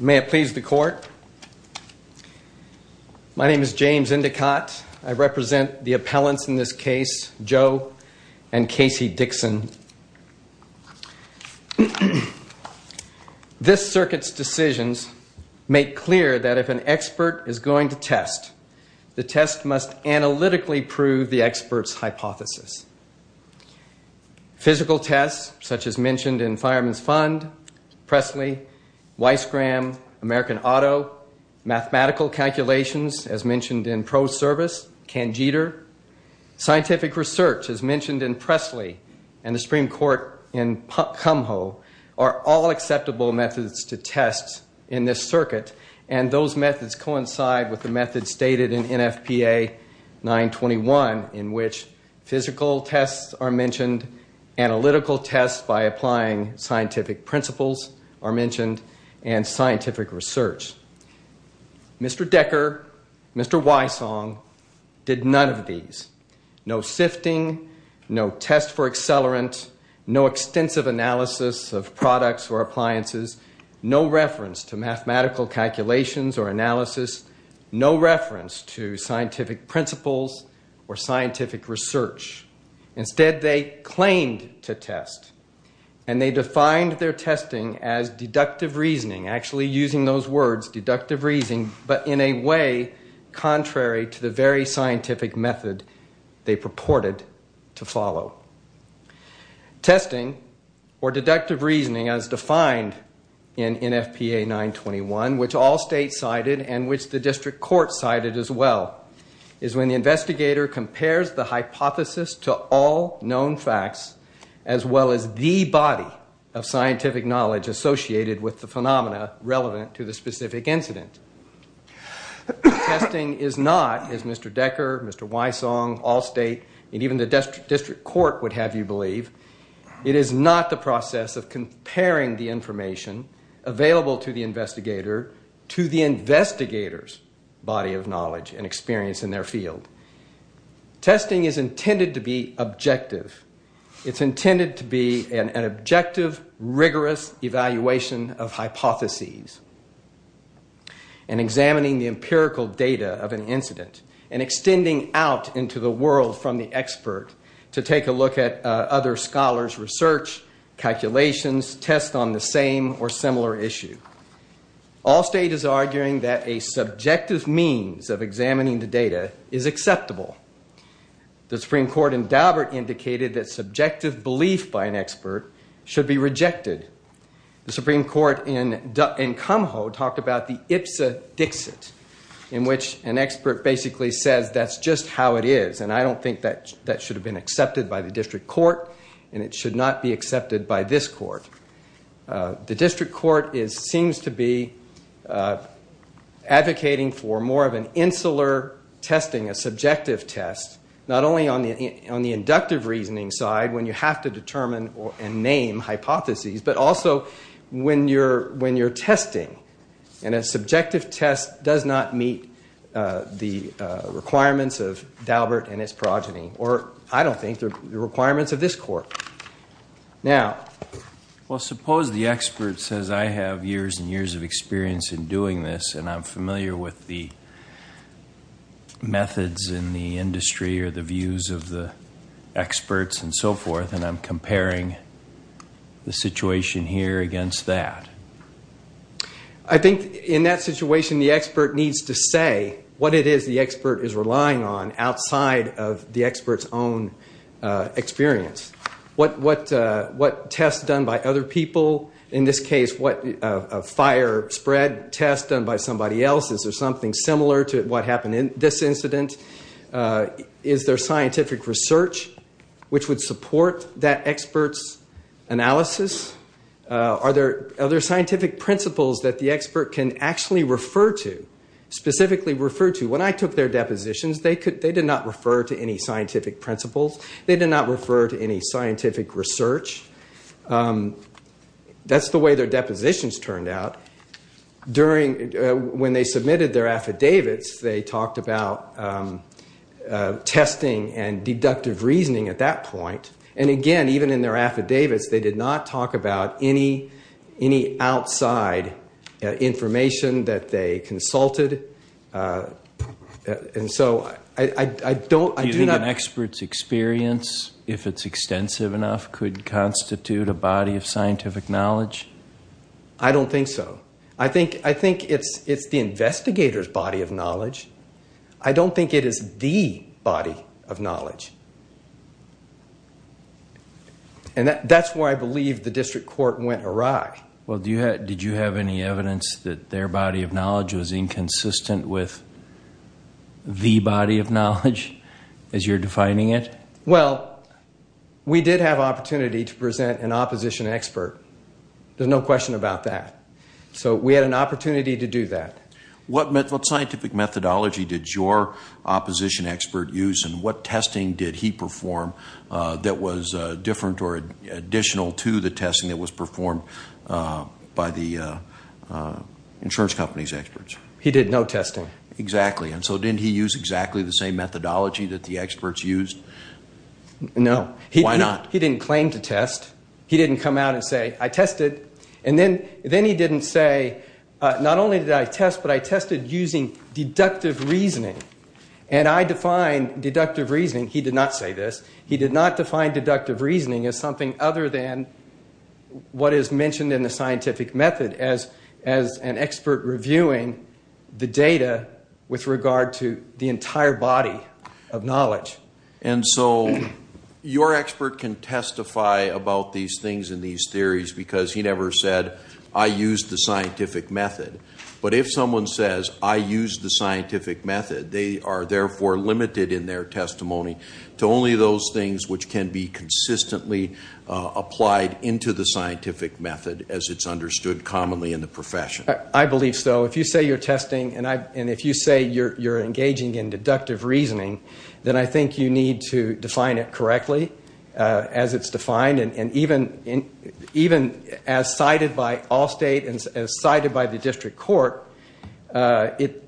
May it please the court. My name is James Indicott. I represent the appellants in this case, Joe and Casey Dixon. This circuit's decisions make clear that if an expert is going to test, the test must analytically prove the expert's hypothesis. Physical tests, such as mentioned in Fireman's Fund, Pressley, Weiss-Graham, American Auto, mathematical calculations, as mentioned in Pro Service, Cangeter. Scientific research, as mentioned in Pressley and the Supreme Court in Kumho, are all acceptable methods to test in this circuit. And those methods coincide with the methods stated in NFPA 921, in which physical tests are mentioned, analytical tests by applying scientific principles are mentioned, and scientific research. Mr. Decker, Mr. Weissong, did none of these. No sifting, no test for accelerant, no extensive analysis of products or appliances, no reference to mathematical calculations or analysis, no reference to scientific principles or scientific research. Instead, they claimed to test, and they defined their testing as deductive reasoning, actually using those words, deductive reasoning, but in a way contrary to the very scientific method they purported to follow. Testing, or deductive reasoning as defined in NFPA 921, which all states cited and which the district court cited as well, is when the investigator compares the hypothesis to all known facts, as well as the body of scientific knowledge associated with the phenomena relevant to the specific incident. Testing is not, as Mr. Decker, Mr. Weissong, all state, and even the district court would have you believe, it is not the process of comparing the information available to the investigator to the investigator's body of knowledge and experience in their field. Testing is intended to be objective. It's intended to be an objective, rigorous evaluation of hypotheses. And examining the empirical data of an incident and extending out into the world from the expert to take a look at other scholars' research, calculations, tests on the same or similar issue. All state is arguing that a subjective means of examining the data is acceptable. The Supreme Court in Daubert indicated that subjective belief by an expert should be rejected. The Supreme Court in Kumho talked about the IPSA Dixit, in which an expert basically says that's just how it is, and I don't think that should have been accepted by the district court, and it should not be accepted by this court. The district court seems to be advocating for more of an insular testing, a subjective test, not only on the inductive reasoning side when you have to determine and name hypotheses, but also when you're testing. And a subjective test does not meet the requirements of Daubert and its progeny, or I don't think the requirements of this court. Now... Well, suppose the expert says I have years and years of experience in doing this, and I'm familiar with the methods in the industry or the views of the experts and so forth, and I'm comparing the situation here against that. I think in that situation the expert needs to say what it is the expert is relying on outside of the expert's own experience. What tests done by other people, in this case a fire spread test done by somebody else, is there something similar to what happened in this incident? Is there scientific research which would support that expert's analysis? Are there scientific principles that the expert can actually refer to, specifically refer to? When I took their depositions, they did not refer to any scientific principles. They did not refer to any scientific research. That's the way their depositions turned out. When they submitted their affidavits, they talked about testing and deductive reasoning at that point. Again, even in their affidavits, they did not talk about any outside information that they consulted. Do you think an expert's experience, if it's extensive enough, could constitute a body of scientific knowledge? I don't think so. I think it's the investigator's body of knowledge. I don't think it is the body of knowledge. That's why I believe the district court went awry. Did you have any evidence that their body of knowledge was inconsistent with the body of knowledge, as you're defining it? Well, we did have opportunity to present an opposition expert. There's no question about that. We had an opportunity to do that. What scientific methodology did your opposition expert use? What testing did he perform that was different or additional to the testing that was performed by the insurance company's experts? He did no testing. Exactly. Didn't he use exactly the same methodology that the experts used? No. Why not? He didn't claim to test. He didn't come out and say, I tested. And then he didn't say, not only did I test, but I tested using deductive reasoning. And I define deductive reasoning, he did not say this, he did not define deductive reasoning as something other than what is mentioned in the scientific method as an expert reviewing the data with regard to the entire body of knowledge. And so your expert can testify about these things and these theories because he never said, I used the scientific method. But if someone says, I used the scientific method, they are therefore limited in their testimony to only those things which can be consistently applied into the scientific method as it's understood commonly in the profession. I believe so. So if you say you're testing and if you say you're engaging in deductive reasoning, then I think you need to define it correctly as it's defined. And even as cited by Allstate and as cited by the district court, it...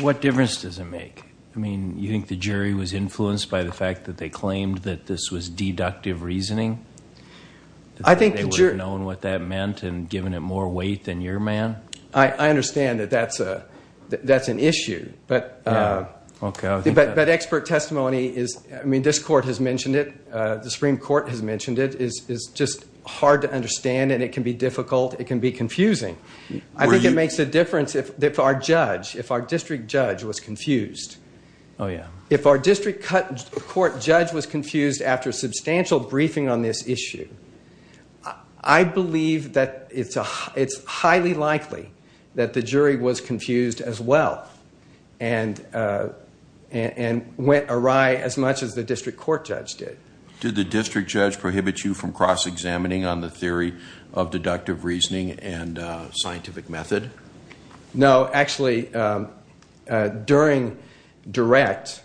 What difference does it make? I mean, you think the jury was influenced by the fact that they claimed that this was deductive reasoning? I think the jury... They would have known what that meant and given it more weight than your man? I understand that that's an issue, but expert testimony is... I mean, this court has mentioned it. The Supreme Court has mentioned it. It's just hard to understand and it can be difficult. It can be confusing. I think it makes a difference if our judge, if our district judge was confused. Oh, yeah. If our district court judge was confused after substantial briefing on this issue, I believe that it's highly likely that the jury was confused as well and went awry as much as the district court judge did. Did the district judge prohibit you from cross-examining on the theory of deductive reasoning and scientific method? No. Actually, during direct,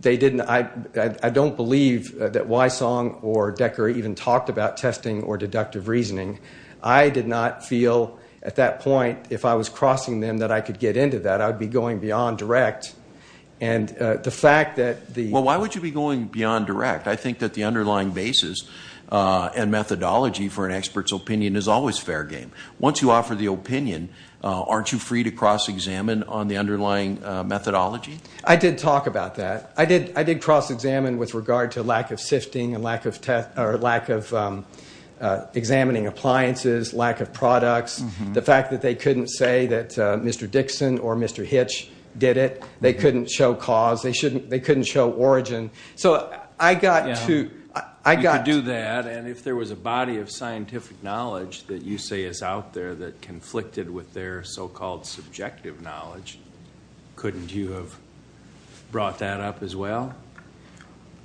they didn't... I don't believe that Wysong or Decker even talked about testing or deductive reasoning. I did not feel at that point, if I was crossing them, that I could get into that. I would be going beyond direct. And the fact that the... Well, why would you be going beyond direct? I think that the underlying basis and methodology for an expert's opinion is always fair game. Once you offer the opinion, aren't you free to cross-examine on the underlying methodology? I did talk about that. I did cross-examine with regard to lack of sifting and lack of examining appliances, lack of products, the fact that they couldn't say that Mr. Dixon or Mr. Hitch did it. They couldn't show cause. They couldn't show origin. So I got to... And if there was a body of scientific knowledge that you say is out there that conflicted with their so-called subjective knowledge, couldn't you have brought that up as well?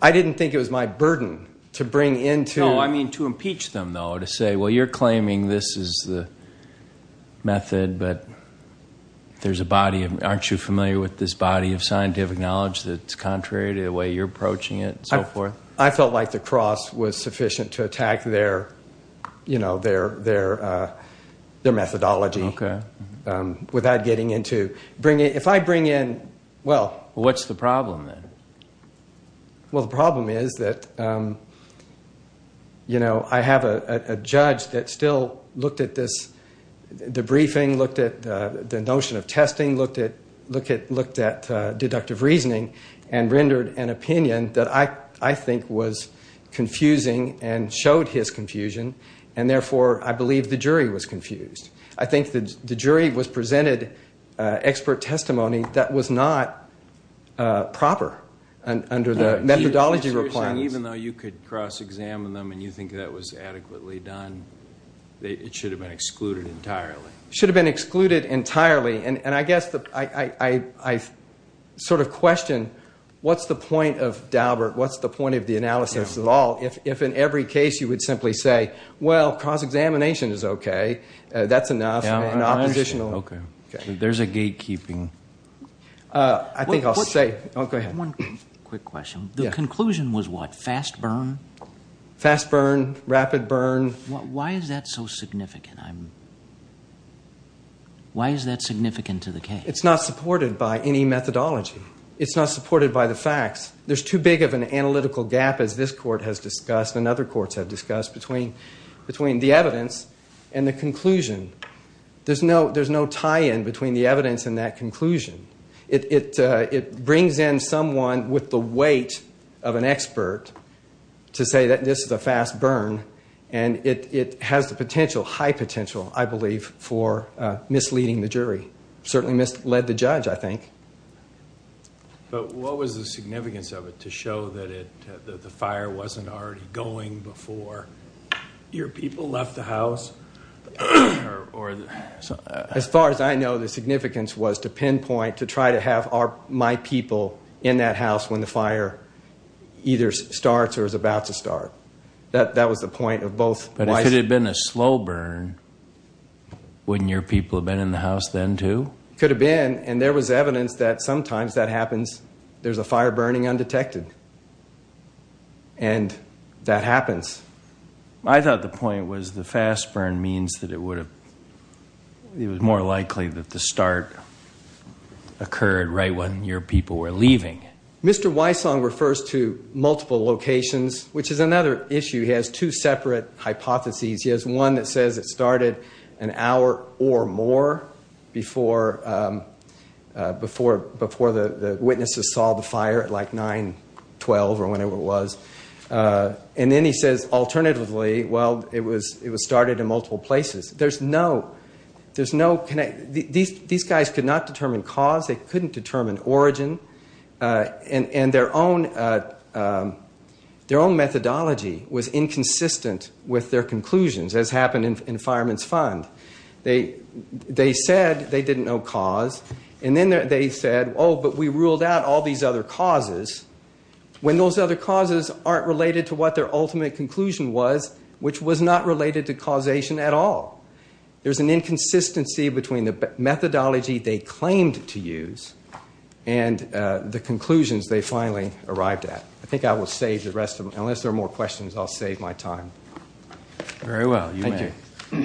I didn't think it was my burden to bring into... No, I mean to impeach them, though, to say, well, you're claiming this is the method, but there's a body of... Aren't you familiar with this body of scientific knowledge that's contrary to the way you're approaching it and so forth? I felt like the cross was sufficient to attack their methodology without getting into... If I bring in... Well, what's the problem then? Well, the problem is that I have a judge that still looked at this debriefing, looked at the notion of testing, looked at deductive reasoning, and rendered an opinion that I think was confusing and showed his confusion, and therefore I believe the jury was confused. I think the jury presented expert testimony that was not proper under the methodology requirements. So you're saying even though you could cross-examine them and you think that was adequately done, it should have been excluded entirely? It should have been excluded entirely, and I guess I sort of question what's the point of Daubert, what's the point of the analysis at all, if in every case you would simply say, well, cross-examination is okay. That's enough. Okay. There's a gatekeeping. I think I'll say... One quick question. The conclusion was what? Fast burn? Fast burn, rapid burn. Why is that so significant? Why is that significant to the case? It's not supported by any methodology. It's not supported by the facts. There's too big of an analytical gap, as this court has discussed and other courts have discussed, between the evidence and the conclusion. There's no tie-in between the evidence and that conclusion. It brings in someone with the weight of an expert to say that this is a fast burn, and it has the potential, high potential, I believe, for misleading the jury. Certainly misled the judge, I think. But what was the significance of it to show that the fire wasn't already going before your people left the house? As far as I know, the significance was to pinpoint, to try to have my people in that house when the fire either starts or is about to start. That was the point of both... But if it had been a slow burn, wouldn't your people have been in the house then, too? Could have been, and there was evidence that sometimes that happens. There's a fire burning undetected, and that happens. I thought the point was the fast burn means that it would have... It was more likely that the start occurred right when your people were leaving. Mr. Wysong refers to multiple locations, which is another issue. He has two separate hypotheses. He has one that says it started an hour or more before the witnesses saw the fire at like 9, 12, or whenever it was. And then he says, alternatively, well, it was started in multiple places. There's no connection. These guys could not determine cause. They couldn't determine origin. And their own methodology was inconsistent with their conclusions, as happened in Fireman's Fund. They said they didn't know cause, and then they said, oh, but we ruled out all these other causes, when those other causes aren't related to what their ultimate conclusion was, which was not related to causation at all. There's an inconsistency between the methodology they claimed to use and the conclusions they finally arrived at. I think I will save the rest of them. Unless there are more questions, I'll save my time. Very well. Thank you.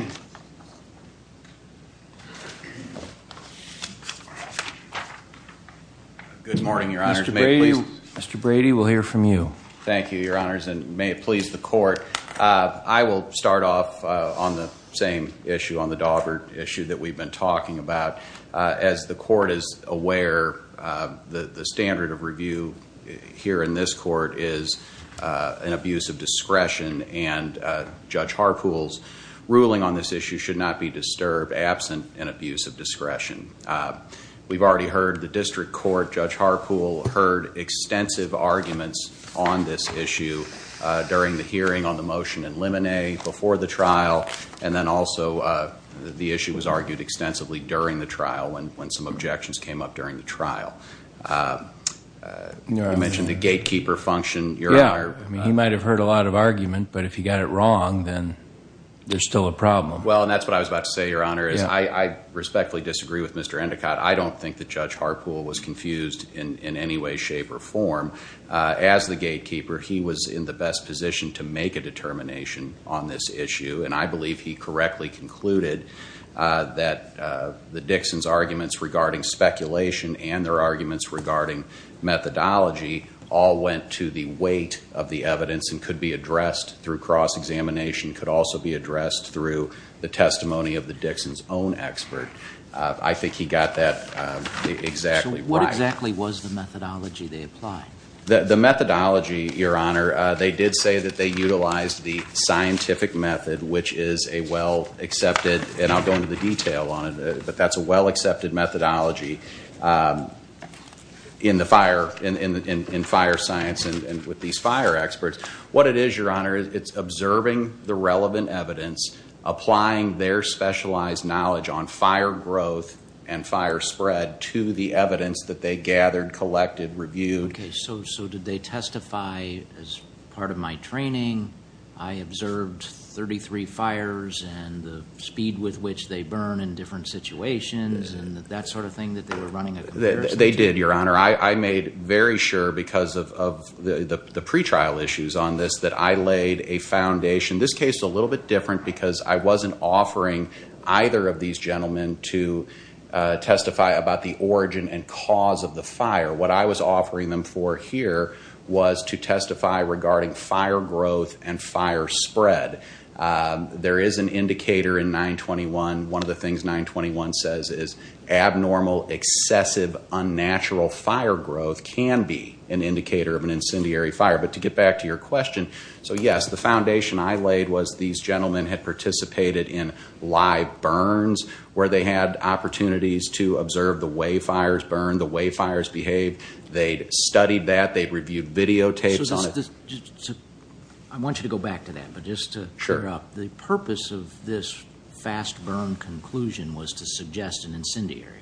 Good morning, Your Honor. Mr. Brady will hear from you. Thank you, Your Honors, and may it please the Court. I will start off on the same issue, on the Daubert issue that we've been talking about. As the Court is aware, the standard of review here in this Court is an abuse of discretion, and Judge Harpool's ruling on this issue should not be disturbed absent an abuse of discretion. We've already heard the district court. Judge Harpool heard extensive arguments on this issue during the hearing on the motion in Lemonet before the trial, and then also the issue was argued extensively during the trial when some objections came up during the trial. You mentioned the gatekeeper function, Your Honor. Yeah, he might have heard a lot of argument, but if he got it wrong, then there's still a problem. Well, and that's what I was about to say, Your Honor, is I respectfully disagree with Mr. Endicott. I don't think that Judge Harpool was confused in any way, shape, or form. As the gatekeeper, he was in the best position to make a determination on this issue, and I believe he correctly concluded that the Dixons' arguments regarding speculation and their arguments regarding methodology all went to the weight of the evidence and could be addressed through cross-examination, could also be addressed through the testimony of the Dixons' own expert. I think he got that exactly right. So what exactly was the methodology they applied? The methodology, Your Honor, they did say that they utilized the scientific method, which is a well-accepted, and I'll go into the detail on it, but that's a well-accepted methodology in fire science and with these fire experts. What it is, Your Honor, it's observing the relevant evidence, applying their specialized knowledge on fire growth and fire spread to the evidence that they gathered, collected, reviewed. Okay, so did they testify as part of my training, I observed 33 fires and the speed with which they burn in different situations, and that sort of thing that they were running a comparison to? They did, Your Honor. I made very sure because of the pretrial issues on this that I laid a foundation. This case is a little bit different because I wasn't offering either of these gentlemen to testify about the origin and cause of the fire. What I was offering them for here was to testify regarding fire growth and fire spread. There is an indicator in 921. One of the things 921 says is abnormal, excessive, unnatural fire growth can be an indicator of an incendiary fire. But to get back to your question, so yes, the foundation I laid was these gentlemen had participated in live burns where they had opportunities to observe the way fires burn, the way fires behave. They studied that. They reviewed videotapes on it. I want you to go back to that, but just to clear up. Sure. The purpose of this fast burn conclusion was to suggest an incendiary.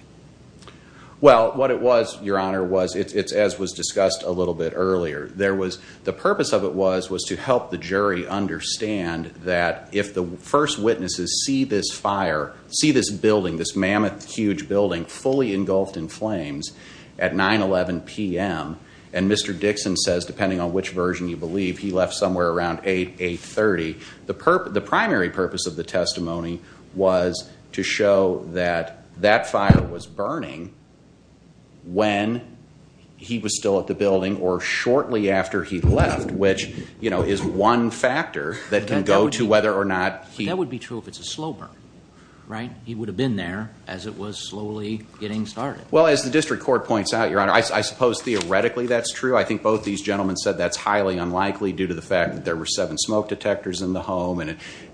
Well, what it was, Your Honor, as was discussed a little bit earlier, the purpose of it was to help the jury understand that if the first witnesses see this fire, see this building, this mammoth, huge building, fully engulfed in flames at 9-11 p.m. And Mr. Dixon says, depending on which version you believe, he left somewhere around 8, 8-30. The primary purpose of the testimony was to show that that fire was burning when he was still at the building or shortly after he left, which is one factor that can go to whether or not he- But that would be true if it's a slow burn, right? He would have been there as it was slowly getting started. Well, as the district court points out, Your Honor, I suppose theoretically that's true. I think both these gentlemen said that's highly unlikely due to the fact that there were seven smoke detectors in the home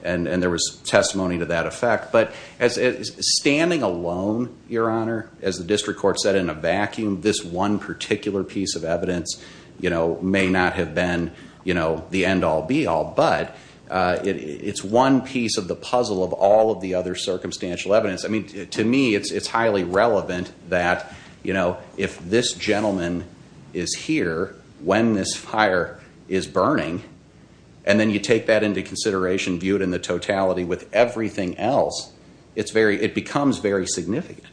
and there was testimony to that effect. But standing alone, Your Honor, as the district court said in a vacuum, this one particular piece of evidence may not have been the end-all, be-all. But it's one piece of the puzzle of all of the other circumstantial evidence. I mean, to me, it's highly relevant that, you know, if this gentleman is here when this fire is burning and then you take that into consideration, view it in the totality with everything else, it becomes very significant.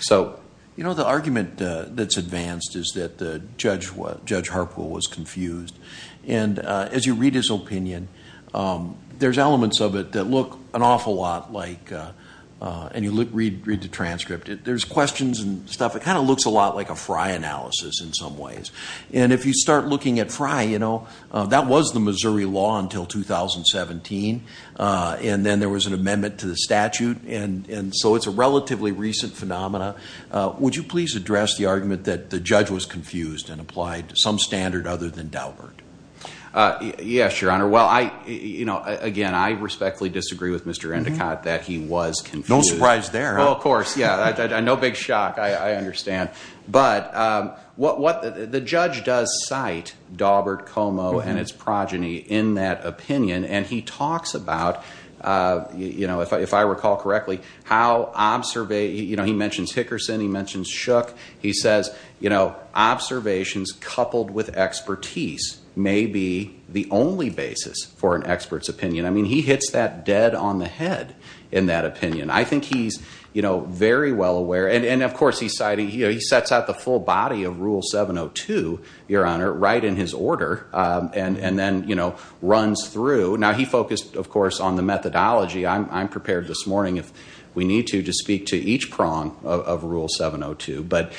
So, you know, the argument that's advanced is that Judge Harpool was confused. And as you read his opinion, there's elements of it that look an awful lot like, and you read the transcript, there's questions and stuff. It kind of looks a lot like a Frye analysis in some ways. And if you start looking at Frye, you know, that was the Missouri law until 2017. And then there was an amendment to the statute. And so it's a relatively recent phenomena. Would you please address the argument that the judge was confused and applied some standard other than Daubert? Yes, Your Honor. Well, I, you know, again, I respectfully disagree with Mr. Endicott that he was confused. No surprise there. Well, of course. Yeah, no big shock. I understand. But what the judge does cite Daubert Como and its progeny in that opinion, and he talks about, you know, if I recall correctly, how observation, you know, he mentions Hickerson, he mentions Shook. He says, you know, observations coupled with expertise may be the only basis for an expert's opinion. I mean, he hits that dead on the head in that opinion. I think he's, you know, very well aware. And, of course, he's citing, you know, he sets out the full body of Rule 702, Your Honor, right in his order, and then, you know, runs through. Now, he focused, of course, on the methodology. I'm prepared this morning, if we need to, to speak to each prong of Rule 702. But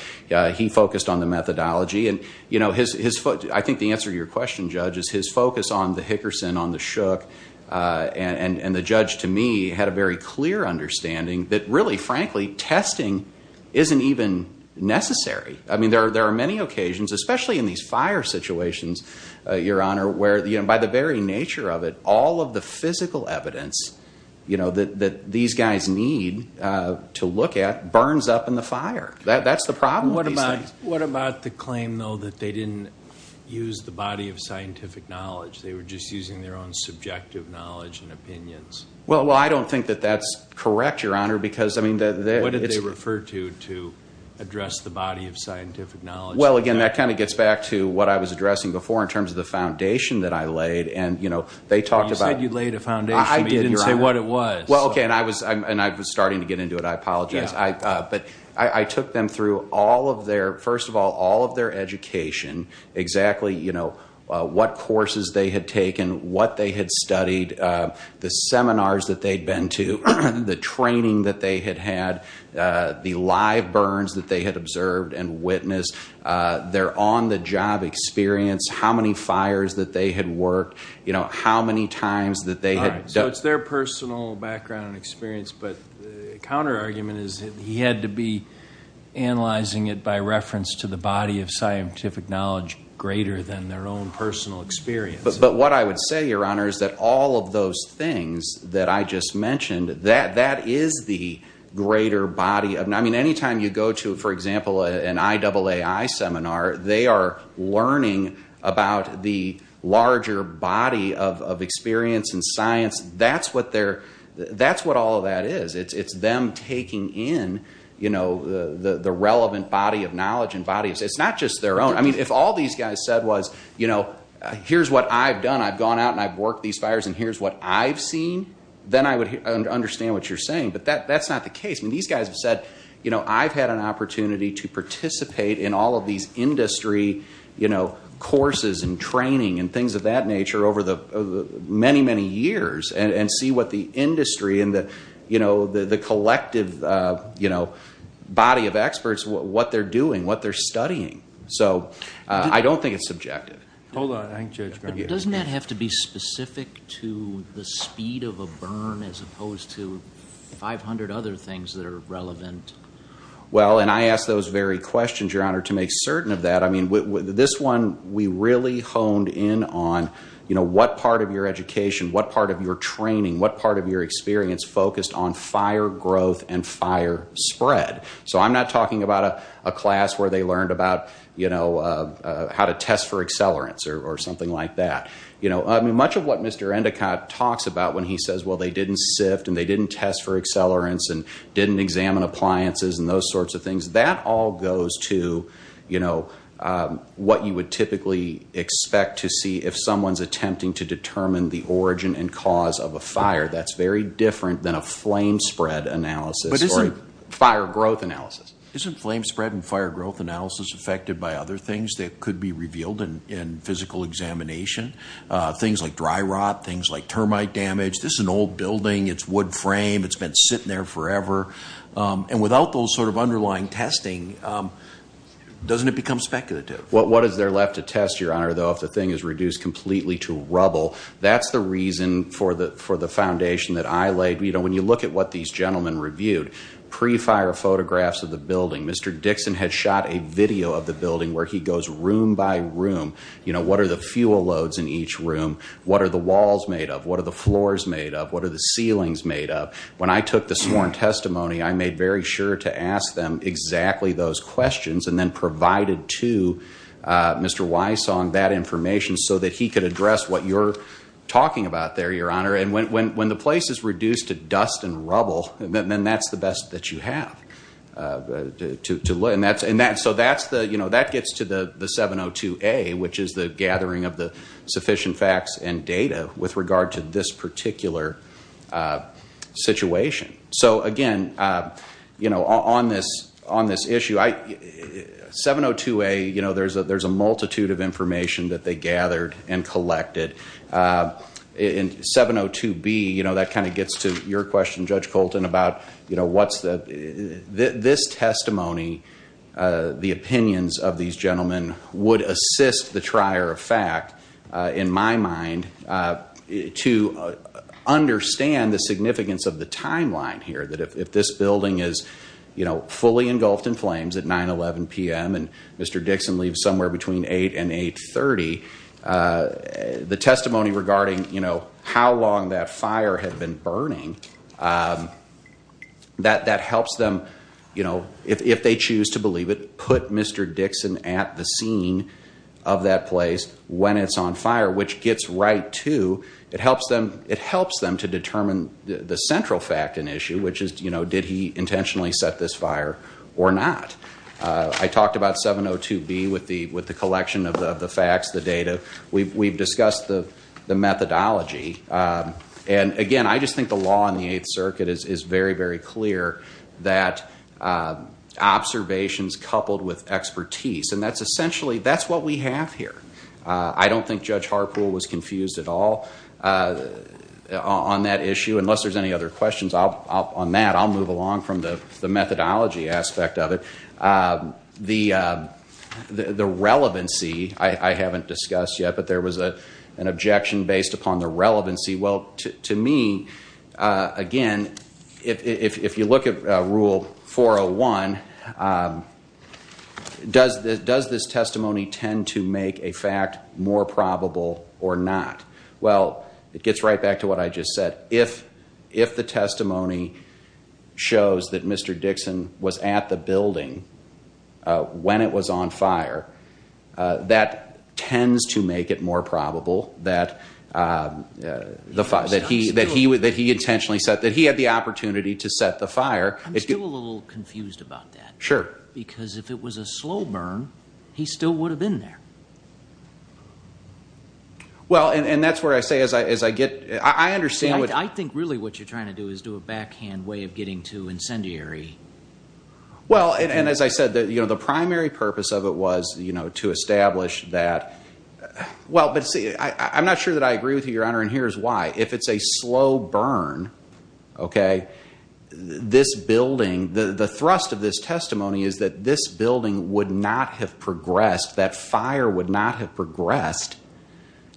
he focused on the methodology. And, you know, I think the answer to your question, Judge, is his focus on the Hickerson, on the Shook, and the judge, to me, had a very clear understanding that really, frankly, testing isn't even necessary. I mean, there are many occasions, especially in these fire situations, Your Honor, where, you know, by the very nature of it, all of the physical evidence, you know, that these guys need to look at burns up in the fire. That's the problem with these things. What about the claim, though, that they didn't use the body of scientific knowledge? They were just using their own subjective knowledge and opinions. Well, I don't think that that's correct, Your Honor, because, I mean, it's… Well, again, that kind of gets back to what I was addressing before in terms of the foundation that I laid. And, you know, they talked about… You said you laid a foundation, but you didn't say what it was. Well, okay, and I was starting to get into it. I apologize. But I took them through all of their, first of all, all of their education, exactly, you know, what courses they had taken, what they had studied, the seminars that they had been to, the training that they had had, the live burns that they had observed and witnessed, their on-the-job experience, how many fires that they had worked, you know, how many times that they had… All right, so it's their personal background and experience, but the counterargument is that he had to be analyzing it by reference to the body of scientific knowledge greater than their own personal experience. But what I would say, Your Honor, is that all of those things that I just mentioned, that is the greater body. I mean, any time you go to, for example, an IAAI seminar, they are learning about the larger body of experience and science. That's what all of that is. It's them taking in, you know, the relevant body of knowledge and bodies. It's not just their own. I mean, if all these guys said was, you know, here's what I've done. I've gone out and I've worked these fires and here's what I've seen, then I would understand what you're saying. But that's not the case. I mean, these guys have said, you know, I've had an opportunity to participate in all of these industry, you know, courses and training and things of that nature over the many, many years and see what the industry and the, you know, the collective, you know, body of experts, what they're doing, what they're studying. So I don't think it's subjective. Hold on. But doesn't that have to be specific to the speed of a burn as opposed to 500 other things that are relevant? Well, and I ask those very questions, Your Honor, to make certain of that. I mean, this one we really honed in on, you know, what part of your education, what part of your training, what part of your experience focused on fire growth and fire spread. So I'm not talking about a class where they learned about, you know, how to test for accelerants or something like that. You know, I mean, much of what Mr. Endicott talks about when he says, well, they didn't sift and they didn't test for accelerants and didn't examine appliances and those sorts of things, that all goes to, you know, what you would typically expect to see if someone's attempting to determine the origin and cause of a fire. That's very different than a flame spread analysis. But isn't— Fire growth analysis. Isn't flame spread and fire growth analysis affected by other things that could be revealed in physical examination? Things like dry rot, things like termite damage. This is an old building. It's wood frame. It's been sitting there forever. And without those sort of underlying testing, doesn't it become speculative? What is there left to test, Your Honor, though, if the thing is reduced completely to rubble? That's the reason for the foundation that I laid. You know, when you look at what these gentlemen reviewed, pre-fire photographs of the building, Mr. Dixon had shot a video of the building where he goes room by room. You know, what are the fuel loads in each room? What are the walls made of? What are the floors made of? What are the ceilings made of? When I took the sworn testimony, I made very sure to ask them exactly those questions and then provided to Mr. Wysong that information so that he could address what you're talking about there, Your Honor. And when the place is reduced to dust and rubble, then that's the best that you have. So that gets to the 702A, which is the gathering of the sufficient facts and data with regard to this particular situation. So, again, on this issue, 702A, there's a multitude of information that they gathered and collected. In 702B, you know, that kind of gets to your question, Judge Colton, about, you know, what's the... This testimony, the opinions of these gentlemen, would assist the trier of fact, in my mind, to understand the significance of the timeline here, that if this building is, you know, fully engulfed in flames at 9-11 p.m. and Mr. Dixon leaves somewhere between 8 and 8-30, the testimony regarding, you know, how long that fire had been burning, that helps them, you know, if they choose to believe it, put Mr. Dixon at the scene of that place when it's on fire, which gets right to... It helps them to determine the central fact and issue, which is, you know, did he intentionally set this fire or not. I talked about 702B with the collection of the facts, the data. We've discussed the methodology. And, again, I just think the law in the Eighth Circuit is very, very clear that observations coupled with expertise, and that's essentially... that's what we have here. I don't think Judge Harpool was confused at all on that issue. Unless there's any other questions on that, I'll move along from the methodology aspect of it. The relevancy, I haven't discussed yet, but there was an objection based upon the relevancy. Well, to me, again, if you look at Rule 401, does this testimony tend to make a fact more probable or not? Well, it gets right back to what I just said. If the testimony shows that Mr. Dixon was at the building when it was on fire, that tends to make it more probable that he intentionally set... that he had the opportunity to set the fire. I'm still a little confused about that. Sure. Because if it was a slow burn, he still would have been there. I think really what you're trying to do is do a backhand way of getting to incendiary. Well, and as I said, the primary purpose of it was to establish that... Well, but see, I'm not sure that I agree with you, Your Honor, and here's why. If it's a slow burn, this building... the thrust of this testimony is that this building would not have progressed, that fire would not have progressed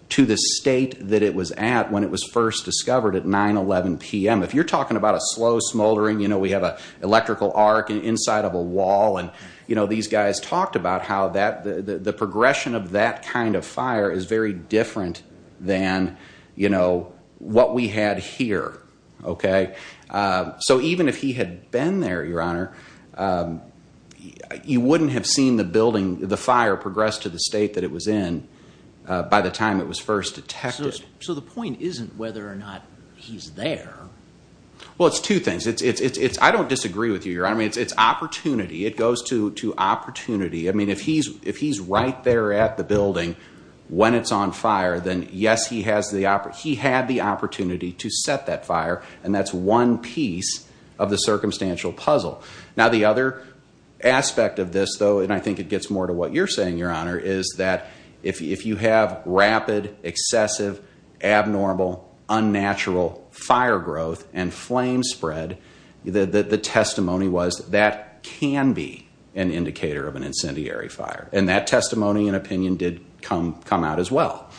to the state that it was at when it was first discovered at 9-11 p.m. If you're talking about a slow smoldering, we have an electrical arc inside of a wall, and these guys talked about how the progression of that kind of fire is very different than what we had here. So even if he had been there, Your Honor, you wouldn't have seen the fire progress to the state that it was in by the time it was first detected. So the point isn't whether or not he's there. Well, it's two things. I don't disagree with you, Your Honor. I mean, it's opportunity. It goes to opportunity. I mean, if he's right there at the building when it's on fire, then yes, he had the opportunity to set that fire, and that's one piece of the circumstantial puzzle. Now, the other aspect of this, though, and I think it gets more to what you're saying, Your Honor, is that if you have rapid, excessive, abnormal, unnatural fire growth and flame spread, the testimony was that can be an indicator of an incendiary fire, and that testimony and opinion did come out as well.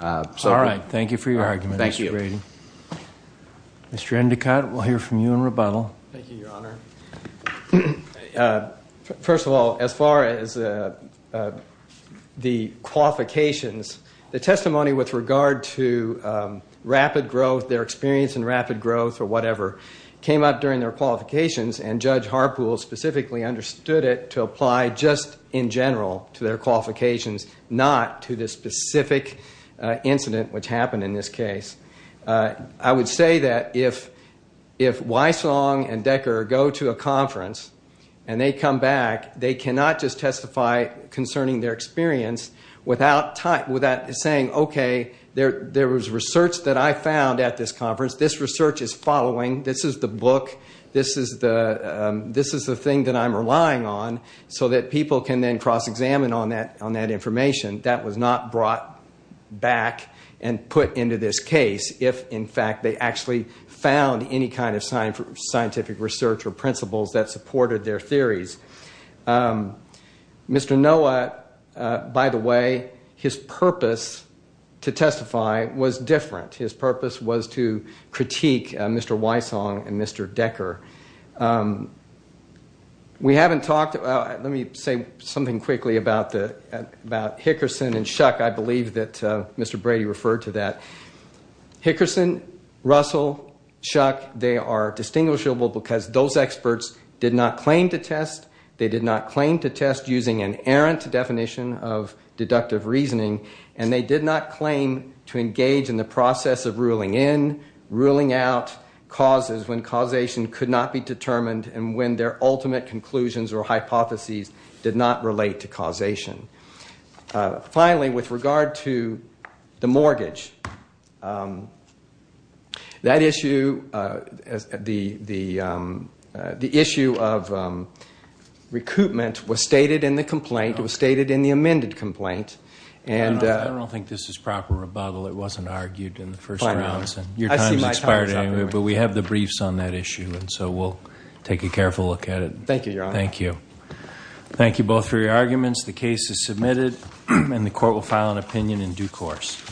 All right. Thank you for your argument, Mr. Brady. Thank you. Mr. Endicott, we'll hear from you in rebuttal. Thank you, Your Honor. First of all, as far as the qualifications, the testimony with regard to rapid growth, their experience in rapid growth or whatever, came up during their qualifications, and Judge Harpool specifically understood it to apply just in general to their qualifications, not to the specific incident which happened in this case. I would say that if Wysong and Decker go to a conference and they come back, they cannot just testify concerning their experience without saying, okay, there was research that I found at this conference. This research is following. This is the book. This is the thing that I'm relying on so that people can then cross-examine on that information. That was not brought back and put into this case if, in fact, they actually found any kind of scientific research or principles that supported their theories. Mr. Noah, by the way, his purpose to testify was different. His purpose was to critique Mr. Wysong and Mr. Decker. Let me say something quickly about Hickerson and Shuck. I believe that Mr. Brady referred to that. Hickerson, Russell, Shuck, they are distinguishable because those experts did not claim to test. They did not claim to test using an errant definition of deductive reasoning, and they did not claim to engage in the process of ruling in, ruling out, causes when causation could not be determined and when their ultimate conclusions or hypotheses did not relate to causation. Finally, with regard to the mortgage, that issue, the issue of recoupment was stated in the complaint. It was stated in the amended complaint. I don't think this is proper rebuttal. It wasn't argued in the first round. Your time has expired anyway, but we have the briefs on that issue, and so we'll take a careful look at it. Thank you, Your Honor. Thank you. Thank you both for your arguments. The case is submitted, and the court will file an opinion in due course.